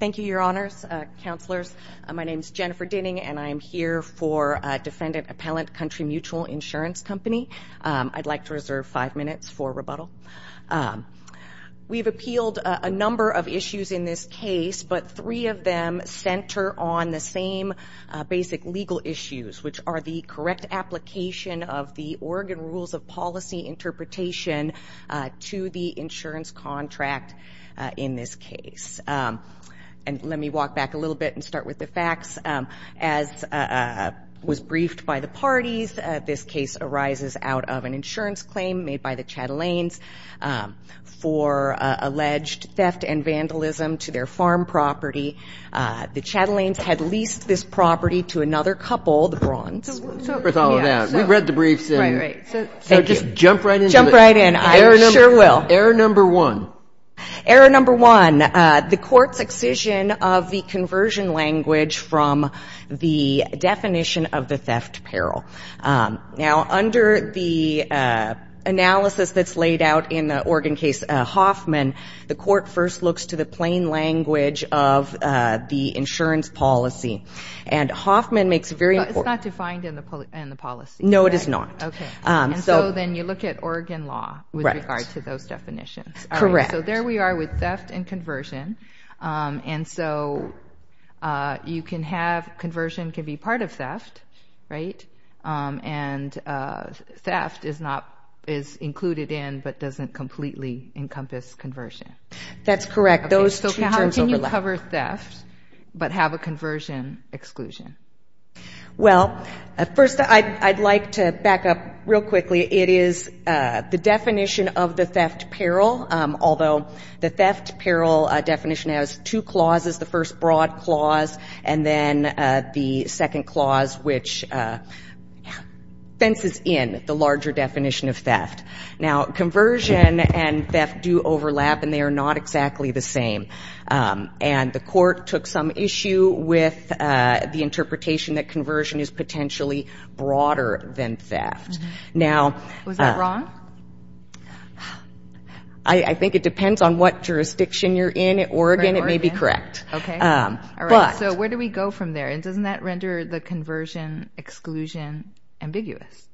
Thank you, Your Honors, Counselors. My name is Jennifer Dinning, and I'm here for Defendant Appellant Country Mutual Insurance Company. I'd like to reserve five minutes for rebuttal. We've appealed a number of issues in this case, but three of them center on the same basic legal issues, which are the correct application of the Oregon Rules of Policy interpretation to the insurance contract in this case. And let me walk back a little bit and start with the facts. As was briefed by the parties, this case arises out of an insurance claim made by the Chatelains for alleged theft and vandalism to their farm property. The Chatelains had leased this property to another couple, the Brawns. So what's up with all of that? We've read the briefs. Right, right. So just jump right into it. Jump right in. I sure will. Error number one. Error number one, the Court's excision of the conversion language from the definition of the theft peril. Now, under the analysis that's laid out in the Oregon case, Hoffman, the Court first looks to the plain language of the insurance policy. And Hoffman makes it very important. But it's not defined in the policy. No, it is not. Okay. And so then you look at Oregon law with regard to those definitions. Correct. So there we are with theft and conversion. And so you can have conversion can be part of theft, right? And theft is included in but doesn't completely encompass conversion. That's correct. Those two terms overlap. So how can you cover theft but have a conversion exclusion? Well, first, I'd like to back up real quickly. It is the definition of the theft peril, although the theft peril definition has two clauses. The first broad clause, and then the second clause, which fences in the larger definition of theft. Now, conversion and theft do overlap, and they are not exactly the same. And the Court took some issue with the interpretation that conversion is potentially broader than theft. Was that wrong? I think it depends on what jurisdiction you're in. At Oregon, it may be correct. Okay. All right. So where do we go from there? And doesn't that render the conversion exclusion ambiguous?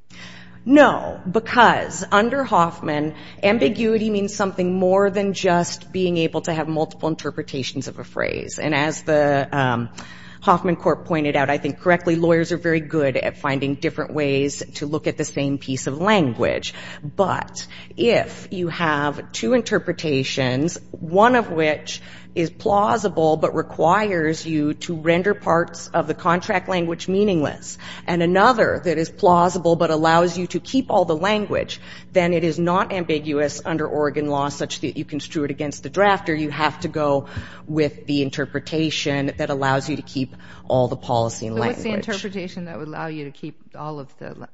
No, because under Hoffman, ambiguity means something more than just being able to have multiple interpretations of a phrase. And as the Hoffman Court pointed out, I think, correctly, lawyers are very good at finding different ways to look at the same piece of language. But if you have two interpretations, one of which is plausible but requires you to render parts of the contract language meaningless, and another that is plausible but allows you to keep all the language, then it is not ambiguous under Oregon law such that you construe it against the draft, or you have to go with the interpretation that allows you to keep all the policy language. So what's the interpretation that would allow you to keep all of the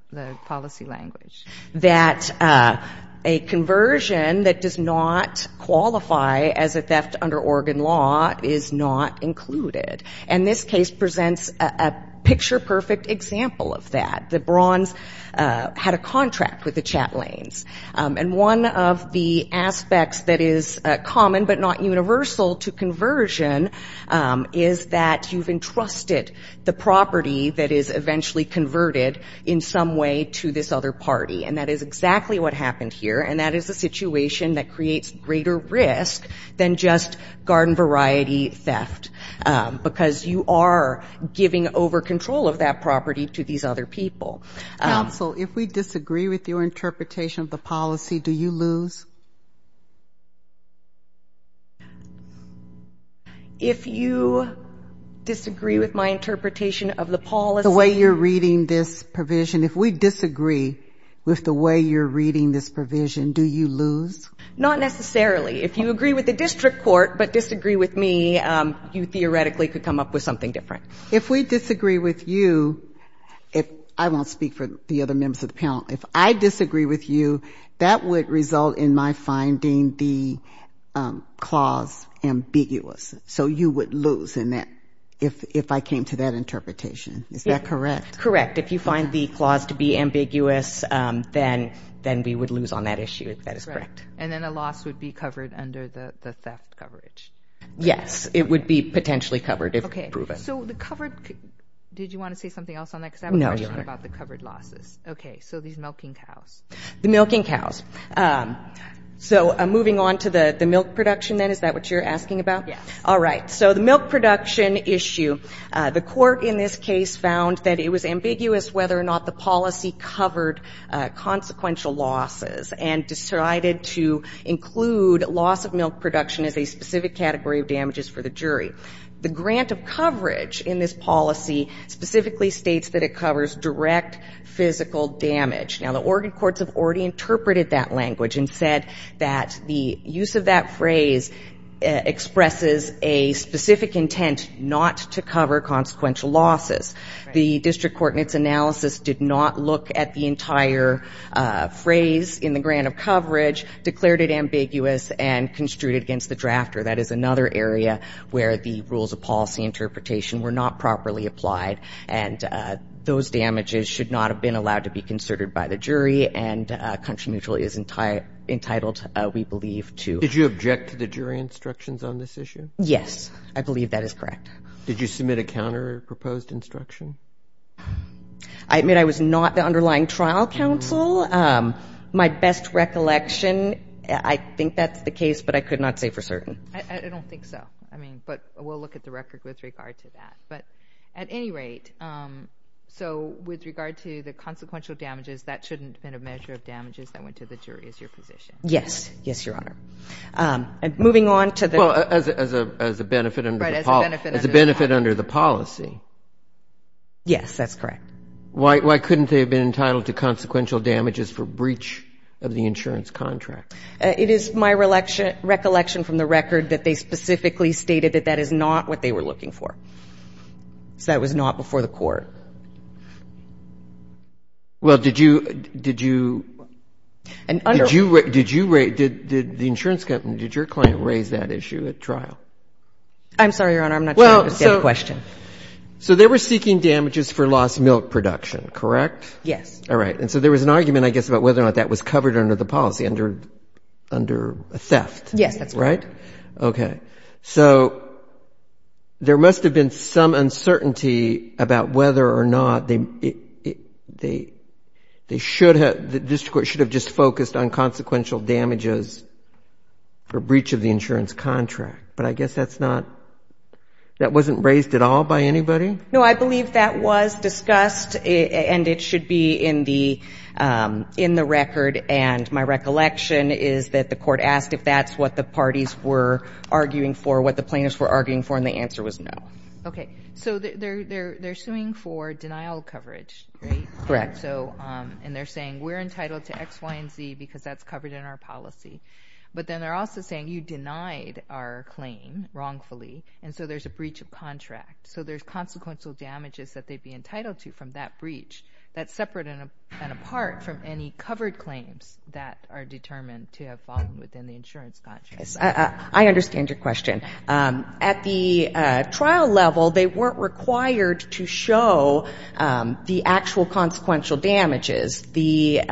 policy language? That a conversion that does not qualify as a theft under Oregon law is not included. And this case presents a picture-perfect example of that. The Brawns had a contract with the Chatelains. And one of the aspects that is common but not universal to conversion is that you've entrusted the property that is eventually converted in some way to this other party. And that is exactly what happened here, and that is a situation that creates greater risk than just garden-variety theft, because you are giving over control of that property to these other people. Counsel, if we disagree with your interpretation of the policy, do you lose? If you disagree with my interpretation of the policy? The way you're reading this provision. If we disagree with the way you're reading this provision, do you lose? Not necessarily. If you agree with the district court but disagree with me, you theoretically could come up with something different. If we disagree with you, if I won't speak for the other members of the panel, if I disagree with you, that would result in my finding the clause ambiguous. So you would lose in that, if I came to that interpretation. Is that correct? Correct. If you find the clause to be ambiguous, then we would lose on that issue, if that is correct. And then a loss would be covered under the theft coverage. Yes. It would be potentially covered if proven. Okay. So the covered, did you want to say something else on that? No, Your Honor. Because I have a question about the covered losses. Okay. So these milking cows. The milking cows. So moving on to the milk production then, is that what you're asking about? Yes. All right. So the milk production issue. The court in this case found that it was ambiguous whether or not the policy covered consequential losses and decided to include loss of milk production as a specific category of damages for the jury. The grant of coverage in this policy specifically states that it covers direct physical damage. Now, the Oregon courts have already interpreted that language and said that the use of that phrase expresses a specific intent not to cover consequential losses. The district court in its analysis did not look at the entire phrase in the grant of coverage, declared it ambiguous, and construed it against the drafter. That is another area where the rules of policy interpretation were not properly applied, and those damages should not have been allowed to be concerted by the jury, and country mutual is entitled, we believe, to. Did you object to the jury instructions on this issue? Yes. I believe that is correct. Did you submit a counterproposed instruction? I admit I was not the underlying trial counsel. My best recollection, I think that's the case, but I could not say for certain. I don't think so. I mean, but we'll look at the record with regard to that. But at any rate, so with regard to the consequential damages, that shouldn't have been a measure of damages that went to the jury, is your position? Yes. Yes, Your Honor. Moving on to the next. Well, as a benefit under the policy. Yes, that's correct. Why couldn't they have been entitled to consequential damages for breach of the insurance contract? It is my recollection from the record that they specifically stated that that is not what they were looking for. So that was not before the court. Well, did you raise, did the insurance company, did your client raise that issue at trial? I'm sorry, Your Honor, I'm not sure I understand the question. So they were seeking damages for lost milk production, correct? Yes. All right. And so there was an argument, I guess, about whether or not that was covered under the policy, under theft. Yes, that's correct. Right? Okay. So there must have been some uncertainty about whether or not they should have, the district court should have just focused on consequential damages for breach of the insurance contract. But I guess that's not, that wasn't raised at all by anybody? No, I believe that was discussed, and it should be in the record. And my recollection is that the court asked if that's what the parties were arguing for, what the plaintiffs were arguing for, and the answer was no. Okay. So they're suing for denial of coverage, right? Correct. And they're saying we're entitled to X, Y, and Z because that's covered in our policy. But then they're also saying you denied our claim wrongfully, and so there's a breach of contract. So there's consequential damages that they'd be entitled to from that breach that's separate and apart from any covered claims that are determined to have fallen within the insurance contract. I understand your question. At the trial level, they weren't required to show the actual consequential damages. The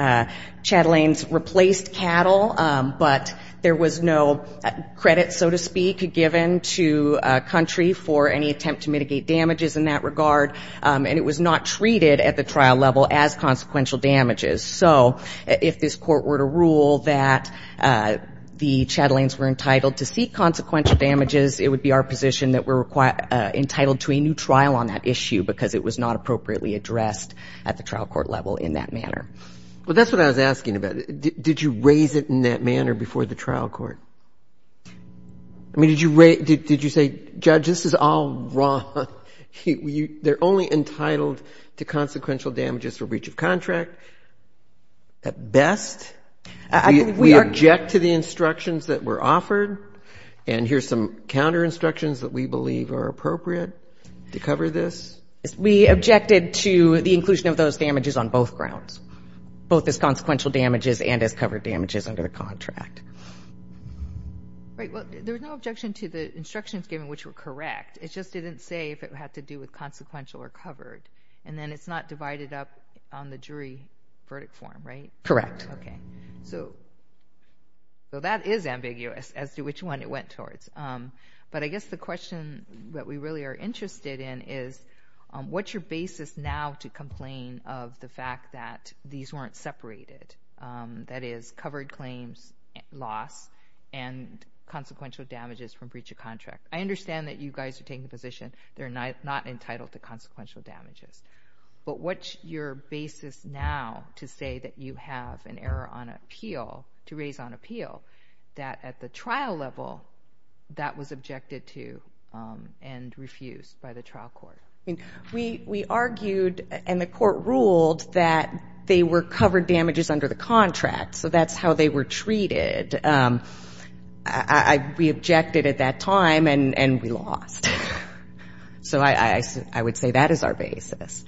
Chatelains replaced cattle, but there was no credit, so to speak, given to a country for any attempt to mitigate damages in that regard, and it was not treated at the trial level as consequential damages. So if this court were to rule that the Chatelains were entitled to seek consequential damages, it would be our position that we're entitled to a new trial on that issue because it was not appropriately addressed at the trial court level in that manner. Well, that's what I was asking about. Did you raise it in that manner before the trial court? I mean, did you say, Judge, this is all wrong? They're only entitled to consequential damages for breach of contract at best. We object to the instructions that were offered, and here's some counterinstructions that we believe are appropriate to cover this. We objected to the inclusion of those damages on both grounds, both as consequential damages and as covered damages under the contract. Right. Well, there was no objection to the instructions given, which were correct. It just didn't say if it had to do with consequential or covered, and then it's not divided up on the jury verdict form, right? Correct. Okay. So that is ambiguous as to which one it went towards, but I guess the question that we really are interested in is what's your basis now to complain of the fact that these weren't separated, that is covered claims, loss, and consequential damages from breach of contract? I understand that you guys are taking the position they're not entitled to consequential damages, but what's your basis now to say that you have an error on appeal, to raise on appeal, that at the trial level that was objected to and refused by the trial court? We argued and the court ruled that they were covered damages under the contract, so that's how they were treated. We objected at that time, and we lost. So I would say that is our basis.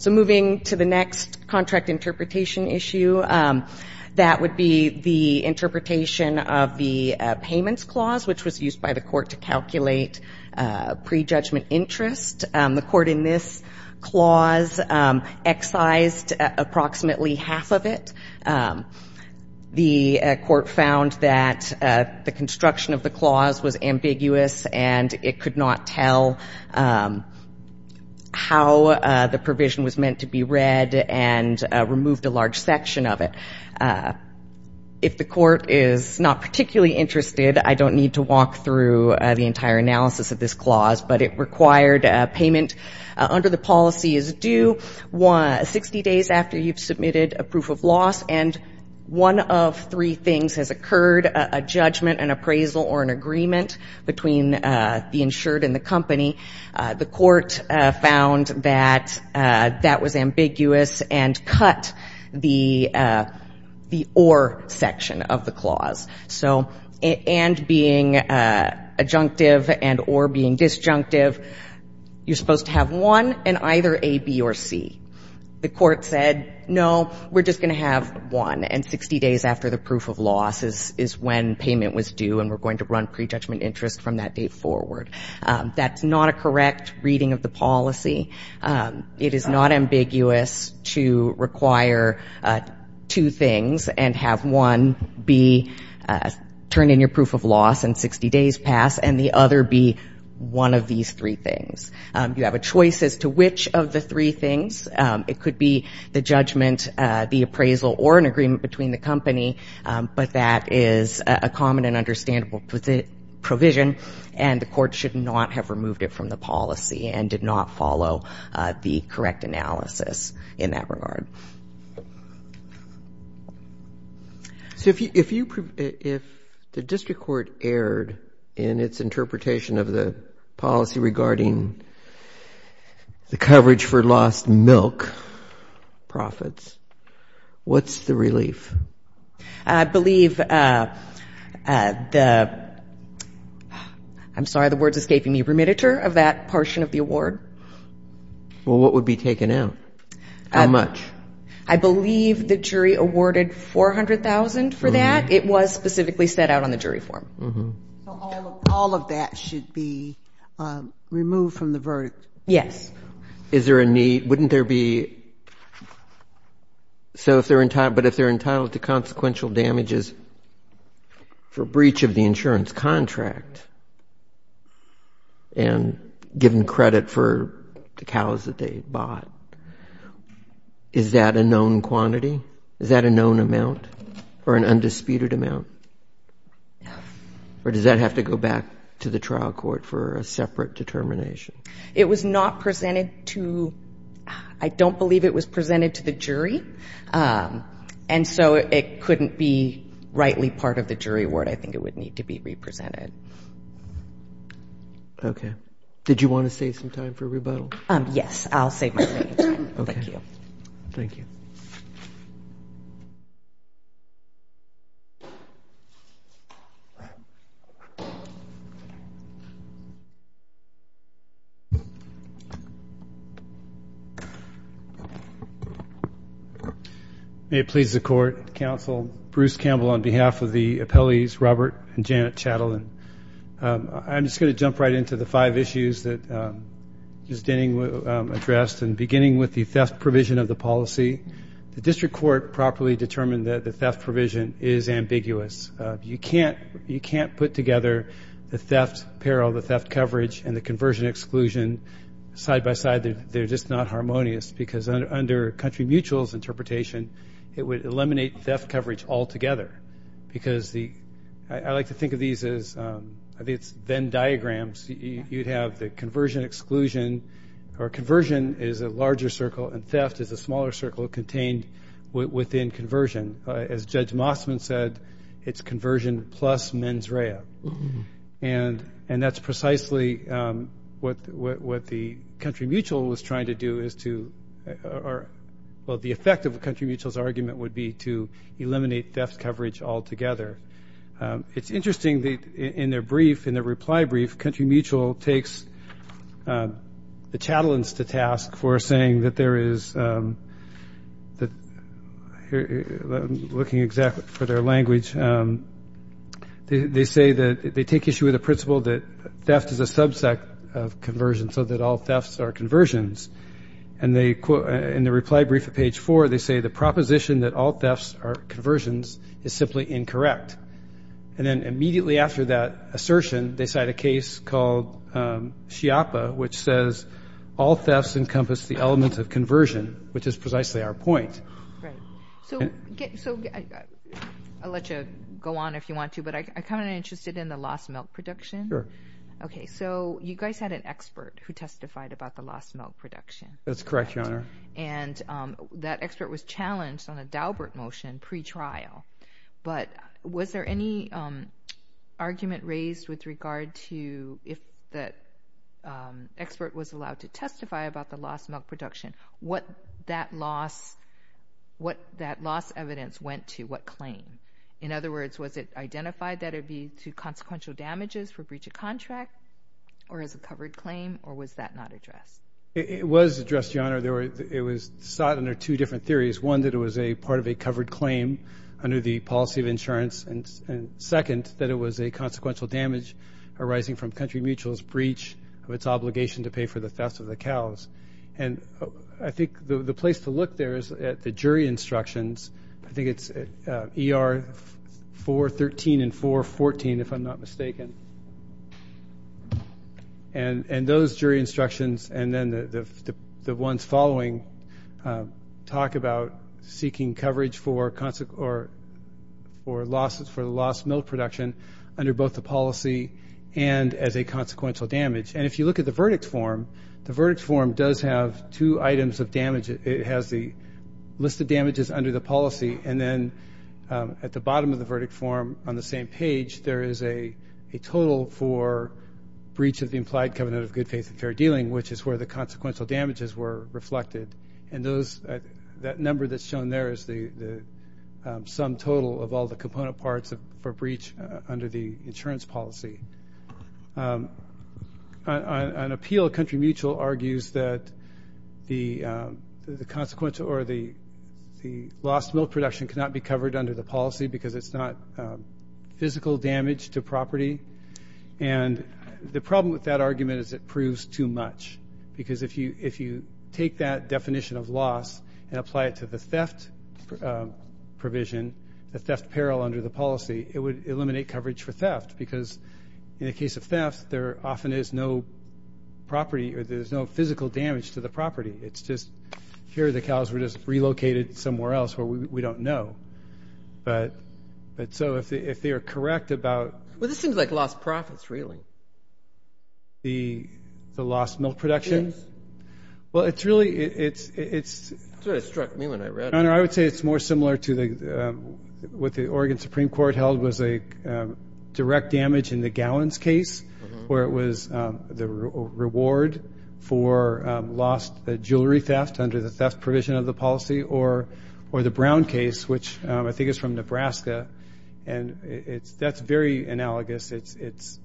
So moving to the next contract interpretation issue, that would be the interpretation of the payments clause, which was used by the court to calculate prejudgment interest. The court in this clause excised approximately half of it. The court found that the construction of the clause was ambiguous and it could not tell how the provision was meant to be read and removed a large section of it. If the court is not particularly interested, I don't need to walk through the entire analysis of this clause, but it required payment under the policy as due 60 days after you've submitted a proof of loss, and one of three things has occurred, a judgment, an appraisal, or an agreement between the insured and the company. The court found that that was ambiguous and cut the or section of the clause. So and being adjunctive and or being disjunctive, you're supposed to have one and either A, B, or C. The court said, no, we're just going to have one, and 60 days after the proof of loss is when payment was due and we're going to run prejudgment interest from that date forward. That's not a correct reading of the policy. It is not ambiguous to require two things and have one be turn in your proof of loss and 60 days pass and the other be one of these three things. You have a choice as to which of the three things. It could be the judgment, the appraisal, or an agreement between the company, but that is a common and understandable provision, and the court should not have removed it from the policy and did not follow the correct analysis in that regard. So if the district court erred in its interpretation of the policy regarding the coverage for lost milk profits, what's the relief? I believe the ‑‑ I'm sorry, the word is escaping me, the remittiture of that portion of the award. Well, what would be taken out? How much? I believe the jury awarded $400,000 for that. It was specifically set out on the jury form. So all of that should be removed from the verdict? Yes. Is there a need ‑‑ wouldn't there be ‑‑ so if they're entitled to consequential damages for breach of the insurance contract and given credit for the cows that they bought, is that a known quantity? Is that a known amount or an undisputed amount? Or does that have to go back to the trial court for a separate determination? It was not presented to ‑‑ I don't believe it was presented to the jury, and so it couldn't be rightly part of the jury award. I think it would need to be represented. Okay. Did you want to save some time for rebuttal? Yes, I'll save my remaining time. Okay. Thank you. Thank you. May it please the Court, Counsel Bruce Campbell, on behalf of the appellees Robert and Janet Chatelain. I'm just going to jump right into the five issues that Ms. Denning addressed, and beginning with the theft provision of the policy, the district court properly determined that the theft provision is ambiguous. You can't put together the theft peril, the theft coverage, and the conversion exclusion side by side. They're just not harmonious, because under Country Mutual's interpretation, it would eliminate theft coverage altogether, because the ‑‑ I like to think of these as, I think it's Venn diagrams. You'd have the conversion exclusion, or conversion is a larger circle, and theft is a smaller circle contained within conversion. As Judge Mossman said, it's conversion plus mens rea. And that's precisely what the Country Mutual was trying to do is to ‑‑ well, the effect of Country Mutual's argument would be to eliminate theft coverage altogether. It's interesting that in their brief, in their reply brief, Country Mutual takes the Chatelains to task for saying that there is ‑‑ I'm looking exactly for their language. They say that they take issue with the principle that theft is a subset of conversion, so that all thefts are conversions. And in their reply brief at page four, they say the proposition that all thefts are conversions is simply incorrect. And then immediately after that assertion, they cite a case called Chiapa, which says all thefts encompass the element of conversion, which is precisely our point. Right. So I'll let you go on if you want to, but I'm kind of interested in the lost milk production. Sure. Okay, so you guys had an expert who testified about the lost milk production. That's correct, Your Honor. And that expert was challenged on a Daubert motion pretrial. But was there any argument raised with regard to if that expert was allowed to testify about the lost milk production, what that loss ‑‑ what that loss evidence went to, what claim? In other words, was it identified that it would be to consequential damages for breach of contract or as a covered claim, or was that not addressed? It was addressed, Your Honor. It was sought under two different theories. One, that it was a part of a covered claim under the policy of insurance, and second, that it was a consequential damage arising from country mutual's breach of its obligation to pay for the theft of the cows. And I think the place to look there is at the jury instructions. I think it's ER 413 and 414, if I'm not mistaken. And those jury instructions, and then the ones following, talk about seeking coverage for loss of milk production under both the policy and as a consequential damage. And if you look at the verdict form, the verdict form does have two items of damage. It has the list of damages under the policy, and then at the bottom of the verdict form on the same page, there is a total for breach of the implied covenant of good faith and fair dealing, which is where the consequential damages were reflected. And that number that's shown there is the sum total of all the component parts for breach under the insurance policy. On appeal, country mutual argues that the consequence or the lost milk production cannot be covered under the policy because it's not physical damage to property. And the problem with that argument is it proves too much, because if you take that definition of loss and apply it to the theft provision, the theft peril under the policy, it would eliminate coverage for theft because in the case of theft, there often is no property or there's no physical damage to the property. It's just here the cows were just relocated somewhere else where we don't know. But so if they are correct about the loss of milk production, well, it's really it's more similar to what the Oregon Supreme Court held was a direct damage in the Gowans case where it was the reward for lost jewelry theft under the theft provision of the policy or the Brown case, which I think is from Nebraska. And that's very analogous. It's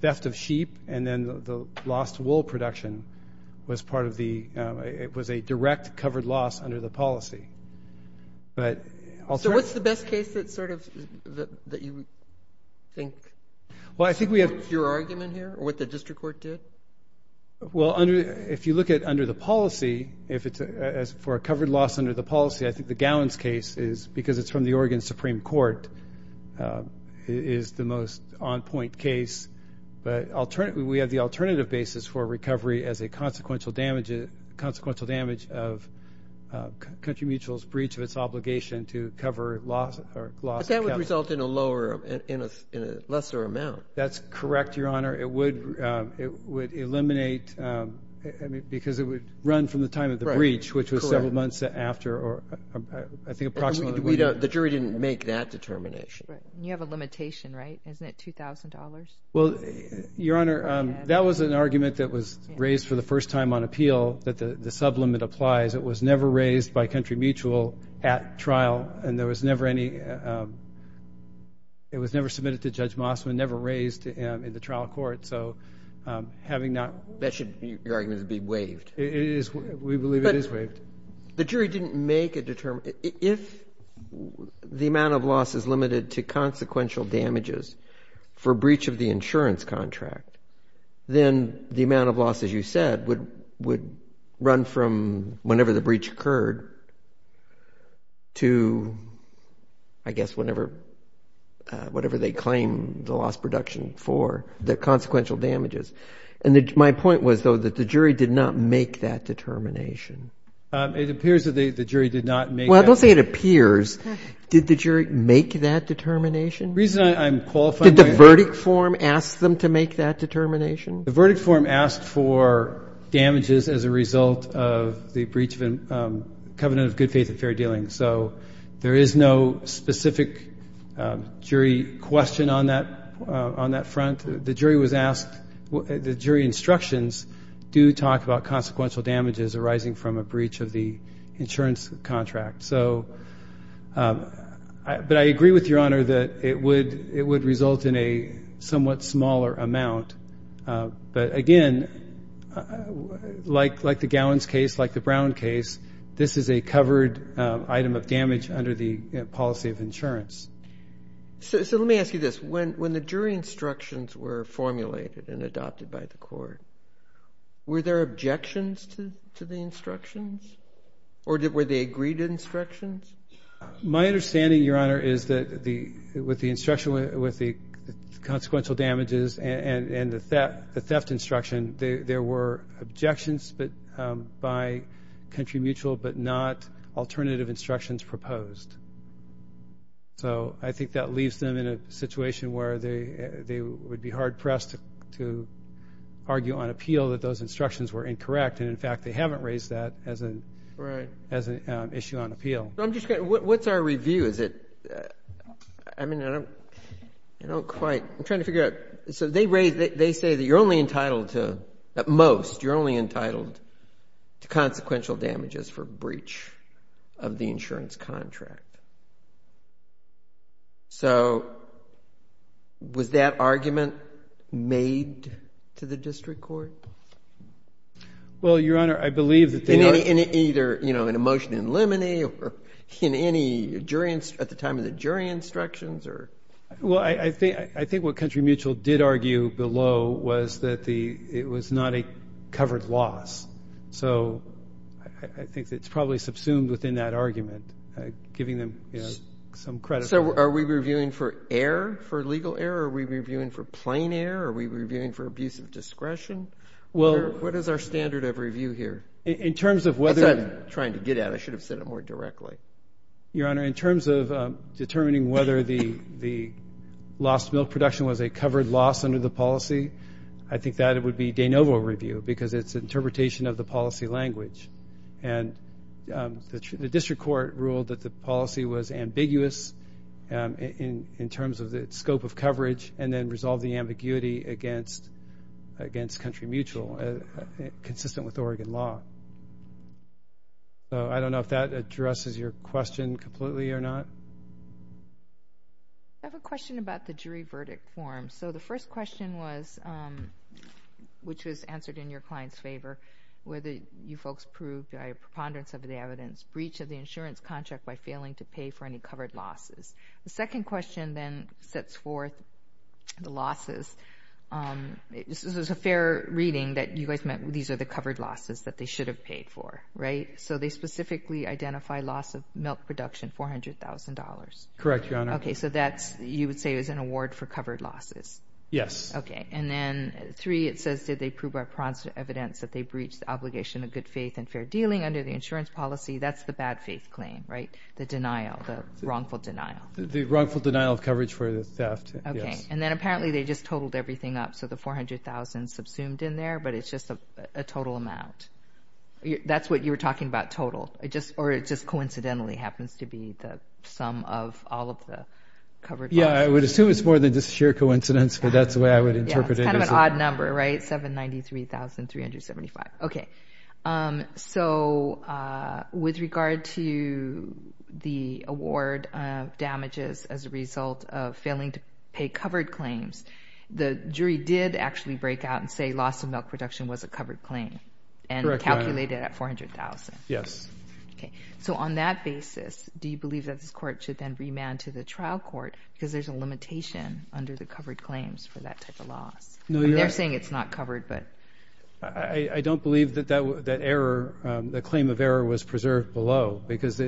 theft of sheep, and then the lost wool production was part of the ‑‑ it was a direct covered loss under the policy. So what's the best case that sort of that you think? Well, I think we have ‑‑ Your argument here or what the district court did? Well, if you look at under the policy, if it's for a covered loss under the policy, I think the Gowans case is because it's from the Oregon Supreme Court is the most on point case. But we have the alternative basis for recovery as a consequential damage of country mutual's breach of its obligation to cover loss. But that would result in a lesser amount. That's correct, Your Honor. It would eliminate because it would run from the time of the breach, which was several months after or I think approximately. The jury didn't make that determination. You have a limitation, right? Isn't it $2,000? Well, Your Honor, that was an argument that was raised for the first time on appeal that the sublimit applies. It was never raised by country mutual at trial, and there was never any ‑‑ it was never submitted to Judge Mossman, never raised in the trial court. So having not ‑‑ That should, your argument, be waived. We believe it is waived. But the jury didn't make a determination. If the amount of loss is limited to consequential damages for breach of the insurance contract, then the amount of loss, as you said, would run from whenever the breach occurred to, I guess, whatever they claim the loss production for, the consequential damages. And my point was, though, that the jury did not make that determination. It appears that the jury did not make that determination. Well, don't say it appears. Did the jury make that determination? The reason I'm qualifying my argument. Did the verdict form ask them to make that determination? The verdict form asked for damages as a result of the breach of covenant of good faith and fair dealing. So there is no specific jury question on that front. The jury was asked ‑‑ the jury instructions do talk about consequential damages arising from a breach of the insurance contract. But I agree with Your Honor that it would result in a somewhat smaller amount. But, again, like the Gowans case, like the Brown case, this is a covered item of damage under the policy of insurance. So let me ask you this. When the jury instructions were formulated and adopted by the court, were there objections to the instructions? Or were they agreed to instructions? My understanding, Your Honor, is that with the consequential damages and the theft instruction, there were objections by country mutual but not alternative instructions proposed. So I think that leaves them in a situation where they would be hard pressed to argue on appeal that those instructions were incorrect. And, in fact, they haven't raised that as an issue on appeal. I'm just curious. What's our review? Is it ‑‑ I mean, I don't quite ‑‑ I'm trying to figure out. So they say that you're only entitled to, at most, you're only entitled to consequential damages for breach of the insurance contract. So was that argument made to the district court? Well, Your Honor, I believe that they are ‑‑ In either an emotion in limine or in any jury ‑‑ at the time of the jury instructions or ‑‑ Well, I think what country mutual did argue below was that it was not a covered loss. So I think it's probably subsumed within that argument, giving them some credit. So are we reviewing for error, for legal error? Are we reviewing for plain error? Are we reviewing for abuse of discretion? What is our standard of review here? In terms of whether ‑‑ I said I'm trying to get at it. I should have said it more directly. Your Honor, in terms of determining whether the lost milk production was a covered loss under the policy, I think that would be de novo review because it's an interpretation of the policy language. And the district court ruled that the policy was ambiguous in terms of its scope of coverage and then resolved the ambiguity against country mutual, consistent with Oregon law. So I don't know if that addresses your question completely or not. I have a question about the jury verdict form. So the first question was, which was answered in your client's favor, whether you folks proved by a preponderance of the evidence, breach of the insurance contract by failing to pay for any covered losses. The second question then sets forth the losses. This was a fair reading that you guys meant these are the covered losses that they should have paid for, right? So they specifically identify loss of milk production, $400,000. Correct, Your Honor. Okay. So you would say it was an award for covered losses? Yes. Okay. And then three, it says, did they prove by evidence that they breached the obligation of good faith and fair dealing under the insurance policy? That's the bad faith claim, right? The denial, the wrongful denial. The wrongful denial of coverage for the theft, yes. Okay. And then apparently they just totaled everything up, so the $400,000 subsumed in there, but it's just a total amount. That's what you were talking about, total, or it just coincidentally happens to be the sum of all of the covered losses. Yeah, I would assume it's more than just sheer coincidence, but that's the way I would interpret it. Yeah, it's kind of an odd number, right? $793,375. Okay. So with regard to the award of damages as a result of failing to pay covered claims, the jury did actually break out and say loss of milk production was a covered claim. Correct, Your Honor. And calculated at $400,000. Yes. Okay. So on that basis, do you believe that this court should then remand to the trial court because there's a limitation under the covered claims for that type of loss? No, Your Honor. They're saying it's not covered, but- I don't believe that that claim of error was preserved below because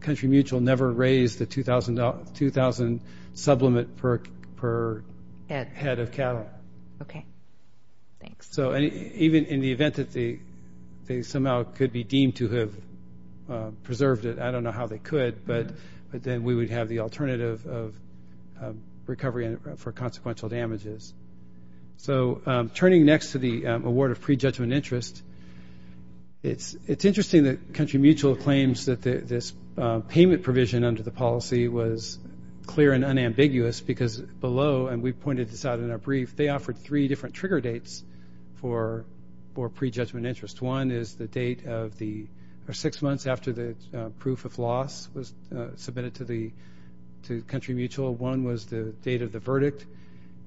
Country Mutual never raised the $2,000 sublimate per head of cattle. Okay. Thanks. So even in the event that they somehow could be deemed to have preserved it, I don't know how they could, but then we would have the alternative of recovery for consequential damages. So turning next to the award of pre-judgment interest, it's interesting that Country Mutual claims that this payment provision under the policy was clear and unambiguous because below, and we pointed this out in our brief, they offered three different trigger dates for pre-judgment interest. One is the date of the six months after the proof of loss was submitted to Country Mutual. One was the date of the verdict,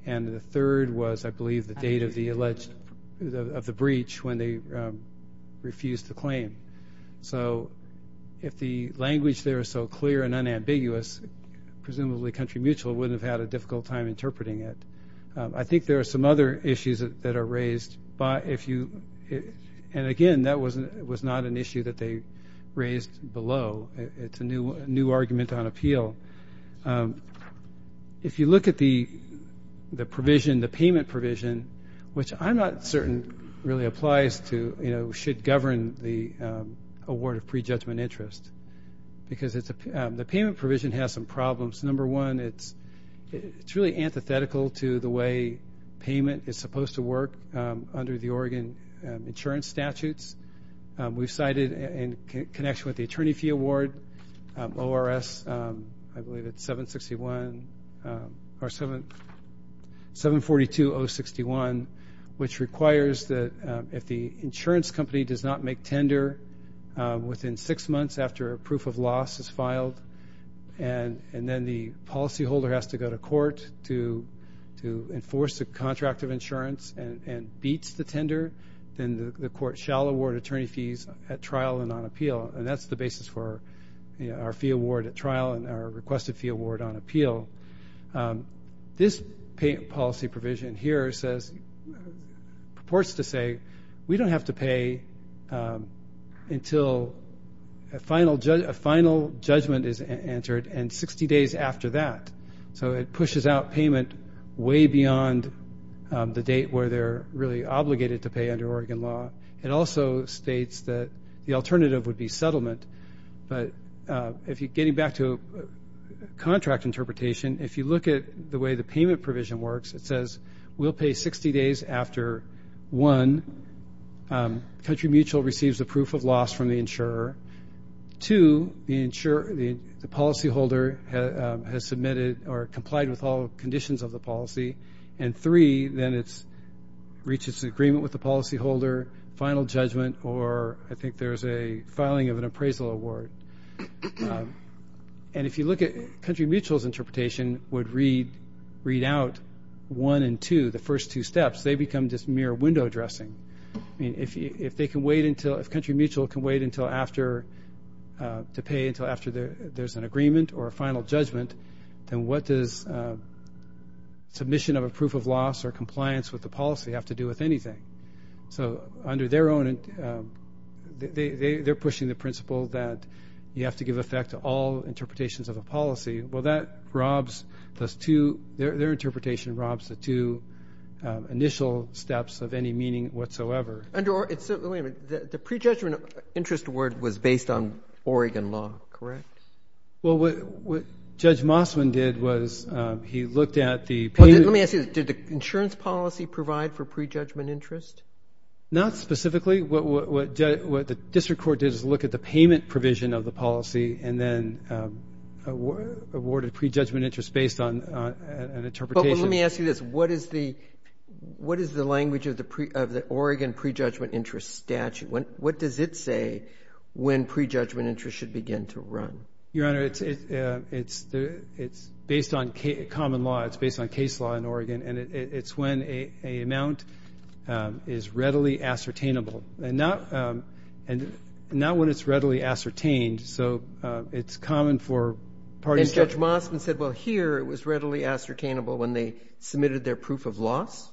and the third was, I believe, the date of the breach when they refused the claim. So if the language there is so clear and unambiguous, presumably Country Mutual wouldn't have had a difficult time interpreting it. I think there are some other issues that are raised, and again, that was not an issue that they raised below. It's a new argument on appeal. If you look at the provision, the payment provision, which I'm not certain really applies to, should govern the award of pre-judgment interest because the payment provision has some problems. Number one, it's really antithetical to the way payment is supposed to work under the Oregon insurance statutes. We've cited in connection with the attorney fee award, ORS, I believe it's 761 or 742-061, which requires that if the insurance company does not make tender within six months after a proof of loss is filed and then the policyholder has to go to court to enforce a contract of insurance and beats the tender, then the court shall award attorney fees at trial and on appeal. And that's the basis for our fee award at trial and our requested fee award on appeal. This policy provision here says, purports to say, we don't have to pay until a final judgment is entered and 60 days after that. So it pushes out payment way beyond the date where they're really obligated to pay under Oregon law. It also states that the alternative would be settlement. But getting back to contract interpretation, if you look at the way the payment provision works, it says, we'll pay 60 days after, one, Country Mutual receives a proof of loss from the insurer, two, the policyholder has submitted or complied with all conditions of the policy, and three, then it reaches agreement with the policyholder, final judgment, or I think there's a filing of an appraisal award. And if you look at Country Mutual's interpretation would read out one and two, the first two steps. They become just mere window dressing. If Country Mutual can wait to pay until after there's an agreement or a final judgment, then what does submission of a proof of loss or compliance with the policy have to do with anything? So under their own, they're pushing the principle that you have to give effect to all interpretations of a policy. Well, that robs the two, their interpretation robs the two initial steps of any meaning whatsoever. Wait a minute. The prejudgment interest award was based on Oregon law, correct? Well, what Judge Mossman did was he looked at the payment. Let me ask you, did the insurance policy provide for prejudgment interest? Not specifically. What the district court did is look at the payment provision of the policy and then awarded prejudgment interest based on an interpretation. But let me ask you this. What is the language of the Oregon prejudgment interest statute? What does it say when prejudgment interest should begin to run? Your Honor, it's based on common law. It's based on case law in Oregon. And it's when an amount is readily ascertainable. And not when it's readily ascertained. So it's common for parties to do that. And Judge Mossman said, well, here it was readily ascertainable when they submitted their proof of loss?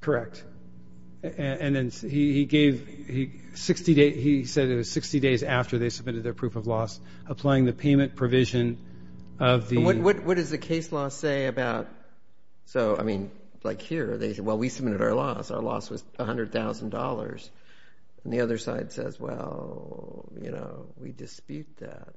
Correct. And then he said it was 60 days after they submitted their proof of loss, applying the payment provision of the ---- What does the case law say about so, I mean, like here, well, we submitted our loss. Our loss was $100,000. And the other side says, well, you know, we dispute that.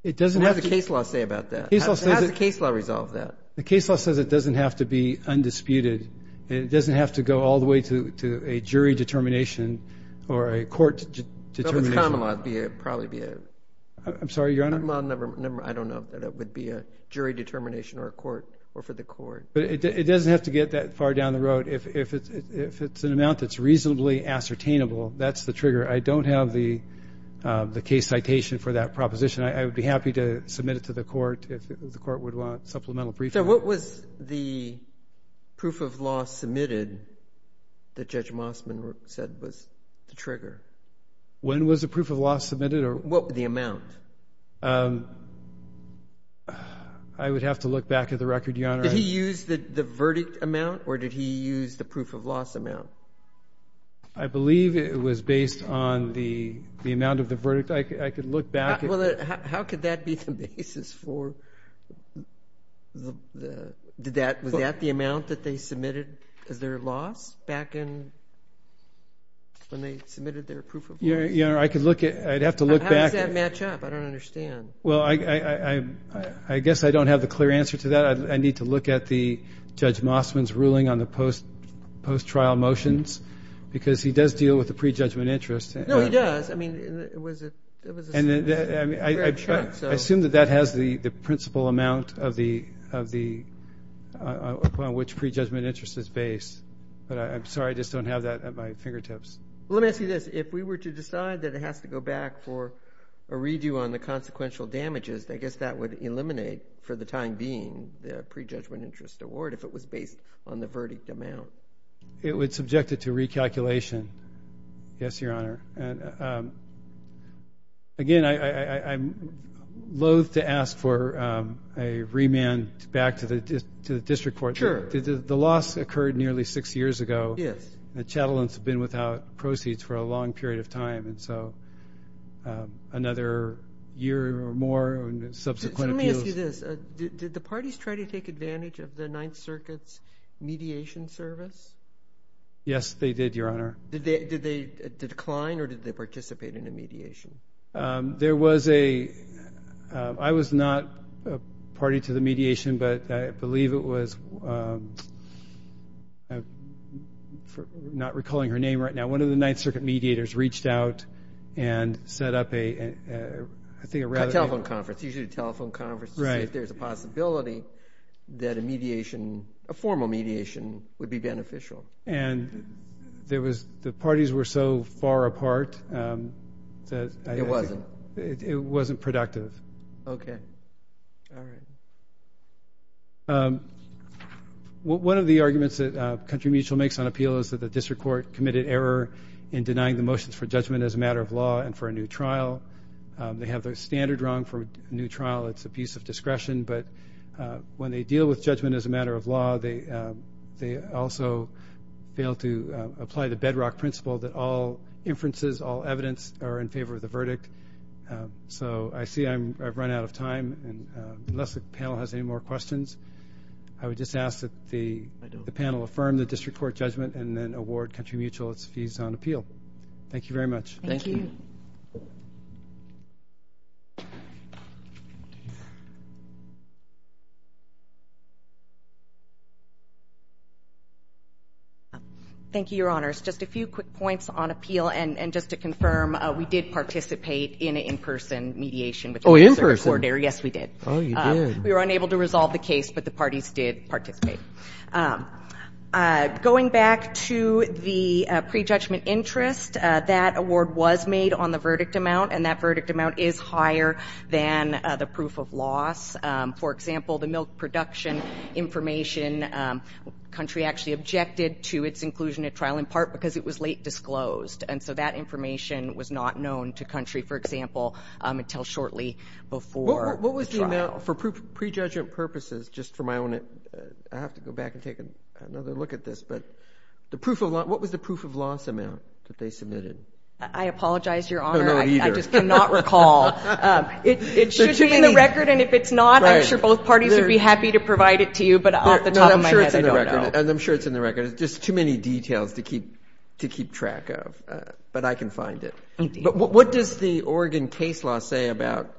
What does the case law say about that? How does the case law resolve that? The case law says it doesn't have to be undisputed. It doesn't have to go all the way to a jury determination or a court determination. I'm sorry, Your Honor. I don't know that it would be a jury determination or a court or for the court. But it doesn't have to get that far down the road. If it's an amount that's reasonably ascertainable, that's the trigger. I don't have the case citation for that proposition. I would be happy to submit it to the court if the court would want supplemental briefing. So what was the proof of loss submitted that Judge Mossman said was the trigger? When was the proof of loss submitted? What was the amount? I would have to look back at the record, Your Honor. Did he use the verdict amount or did he use the proof of loss amount? I believe it was based on the amount of the verdict. I could look back. How could that be the basis for the – was that the amount that they submitted as their loss back in – when they submitted their proof of loss? Your Honor, I could look at – I'd have to look back. How does that match up? I don't understand. Well, I guess I don't have the clear answer to that. I need to look at the Judge Mossman's ruling on the post-trial motions because he does deal with the prejudgment interest. No, he does. I mean, it was a fair check. I assume that that has the principal amount of the – upon which prejudgment interest is based. But I'm sorry, I just don't have that at my fingertips. Let me ask you this. If we were to decide that it has to go back for a redo on the consequential damages, I guess that would eliminate for the time being the prejudgment interest award if it was based on the verdict amount. It would subject it to recalculation. Yes, Your Honor. Again, I'm loathe to ask for a remand back to the district court. Sure. The loss occurred nearly six years ago. Yes. The chatelains have been without proceeds for a long period of time, and so another year or more of subsequent appeals. Let me ask you this. Did the parties try to take advantage of the Ninth Circuit's mediation service? Yes, they did, Your Honor. Did they decline or did they participate in the mediation? There was a – I was not a party to the mediation, but I believe it was – I'm not recalling her name right now. One of the Ninth Circuit mediators reached out and set up a – I think a rather – A telephone conference, usually a telephone conference to see if there's a possibility that a mediation, a formal mediation would be beneficial. And there was – the parties were so far apart that – It wasn't. It wasn't productive. Okay. All right. One of the arguments that Country Mutual makes on appeal is that the district court committed error in denying the motions for judgment as a matter of law and for a new trial. They have their standard wrong for a new trial. It's a piece of discretion. But when they deal with judgment as a matter of law, they also fail to apply the bedrock principle that all inferences, all evidence are in favor of the verdict. So I see I've run out of time. And unless the panel has any more questions, I would just ask that the panel affirm the district court judgment and then award Country Mutual its fees on appeal. Thank you very much. Thank you. Thank you. Thank you, Your Honors. Just a few quick points on appeal. And just to confirm, we did participate in an in-person mediation. Oh, in person. Yes, we did. Oh, you did. We were unable to resolve the case, but the parties did participate. Going back to the prejudgment interest, that award was made on the verdict amount, and that verdict amount is higher than the proof of loss. For example, the milk production information, Country actually objected to its inclusion at trial, in part because it was late disclosed. And so that information was not known to Country, for example, until shortly before the trial. For prejudgment purposes, just for my own, I have to go back and take another look at this, but what was the proof of loss amount that they submitted? I apologize, Your Honor, I just cannot recall. It should be in the record, and if it's not, I'm sure both parties would be happy to provide it to you, but off the top of my head, I don't know. And I'm sure it's in the record. It's just too many details to keep track of, but I can find it. But what does the Oregon case law say about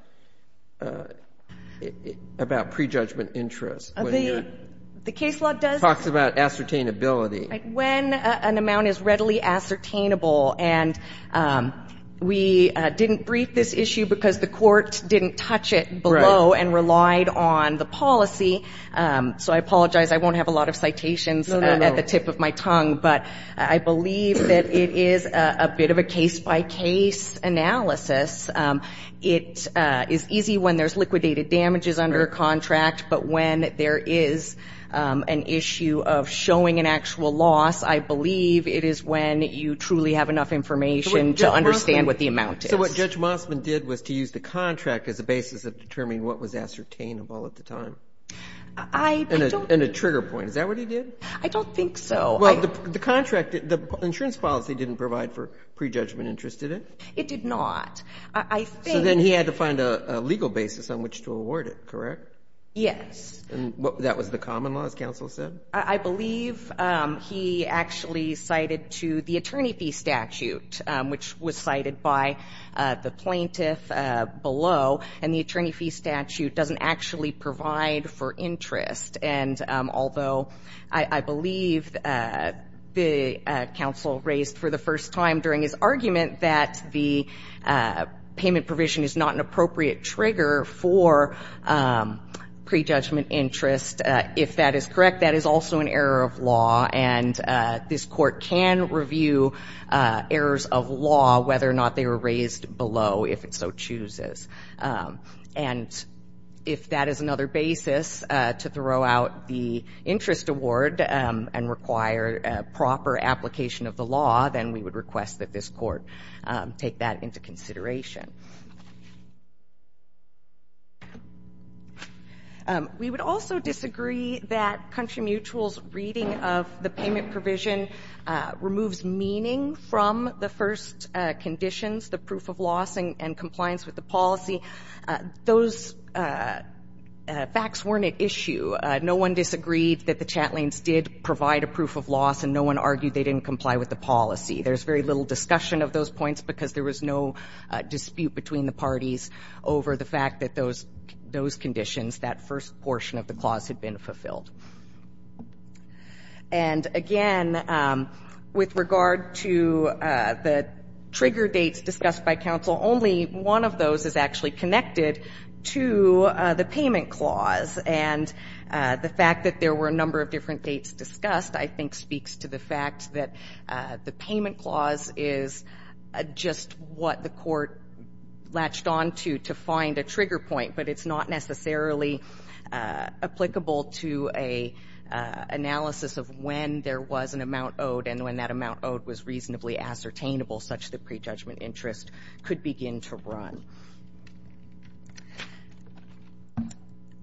prejudgment interest? The case law does talk about ascertainability. When an amount is readily ascertainable, and we didn't brief this issue because the court didn't touch it below and relied on the policy, so I apologize, I won't have a lot of citations at the tip of my tongue, but I believe that it is a bit of a case-by-case analysis. It is easy when there's liquidated damages under a contract, but when there is an issue of showing an actual loss, I believe it is when you truly have enough information to understand what the amount is. So what Judge Mossman did was to use the contract as a basis of determining what was ascertainable at the time. And a trigger point. Is that what he did? I don't think so. Well, the insurance policy didn't provide for prejudgment interest, did it? It did not. So then he had to find a legal basis on which to award it, correct? Yes. And that was the common law, as counsel said? I believe he actually cited to the attorney fee statute, which was cited by the plaintiff below, and the attorney fee statute doesn't actually provide for interest. And although I believe the counsel raised for the first time during his argument that the payment provision is not an appropriate trigger for prejudgment interest, if that is correct, that is also an error of law. And this court can review errors of law, whether or not they were raised below, if it so chooses. And if that is another basis to throw out the interest award and require proper application of the law, then we would request that this court take that into consideration. We would also disagree that Country Mutual's reading of the payment provision removes meaning from the first conditions, the proof of loss and compliance with the policy. Those facts weren't at issue. No one disagreed that the chat lanes did provide a proof of loss, and no one argued they didn't comply with the policy. There's very little discussion of those points because there was no dispute between the parties over the fact that those conditions, that first portion of the clause, had been fulfilled. And, again, with regard to the trigger dates discussed by counsel, only one of those is actually connected to the payment clause. And the fact that there were a number of different dates discussed, I think, speaks to the fact that the payment clause is just what the court latched onto to find a trigger point, but it's not necessarily applicable to an analysis of when there was an amount owed and when that amount owed was reasonably ascertainable such that prejudgment interest could begin to run.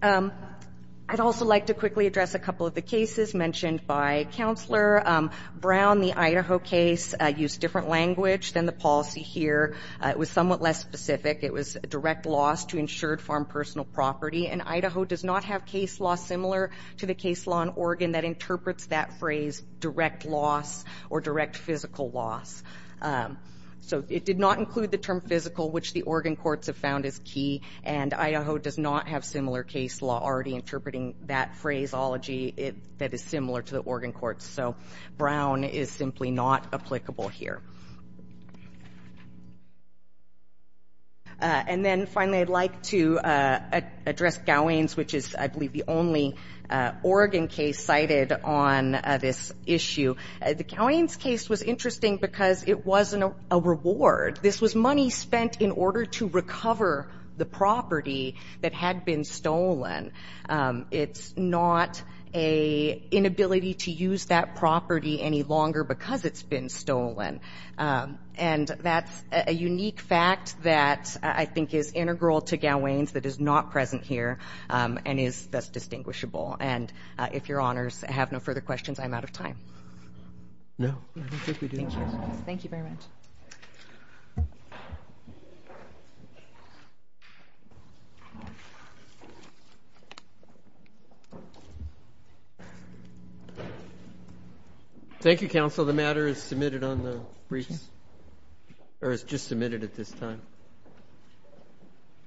I'd also like to quickly address a couple of the cases mentioned by Counselor Brown. The Idaho case used different language than the policy here. It was somewhat less specific. It was direct loss to insured farm personal property, and Idaho does not have case law similar to the case law in Oregon that interprets that phrase, direct loss or direct physical loss. So it did not include the term physical, which the Oregon courts have found is key, and Idaho does not have similar case law already interpreting that phraseology that is similar to the Oregon courts. So Brown is simply not applicable here. And then, finally, I'd like to address Gowains, which is, I believe, the only Oregon case cited on this issue. The Gowains case was interesting because it wasn't a reward. This was money spent in order to recover the property that had been stolen. It's not an inability to use that property any longer because it's been stolen. And that's a unique fact that I think is integral to Gowains that is not present here and is thus distinguishable. And if Your Honors have no further questions, I'm out of time. No, I don't think we do. Thank you. Thank you very much. Thank you, counsel. The matter is submitted on the briefs, or is just submitted at this time.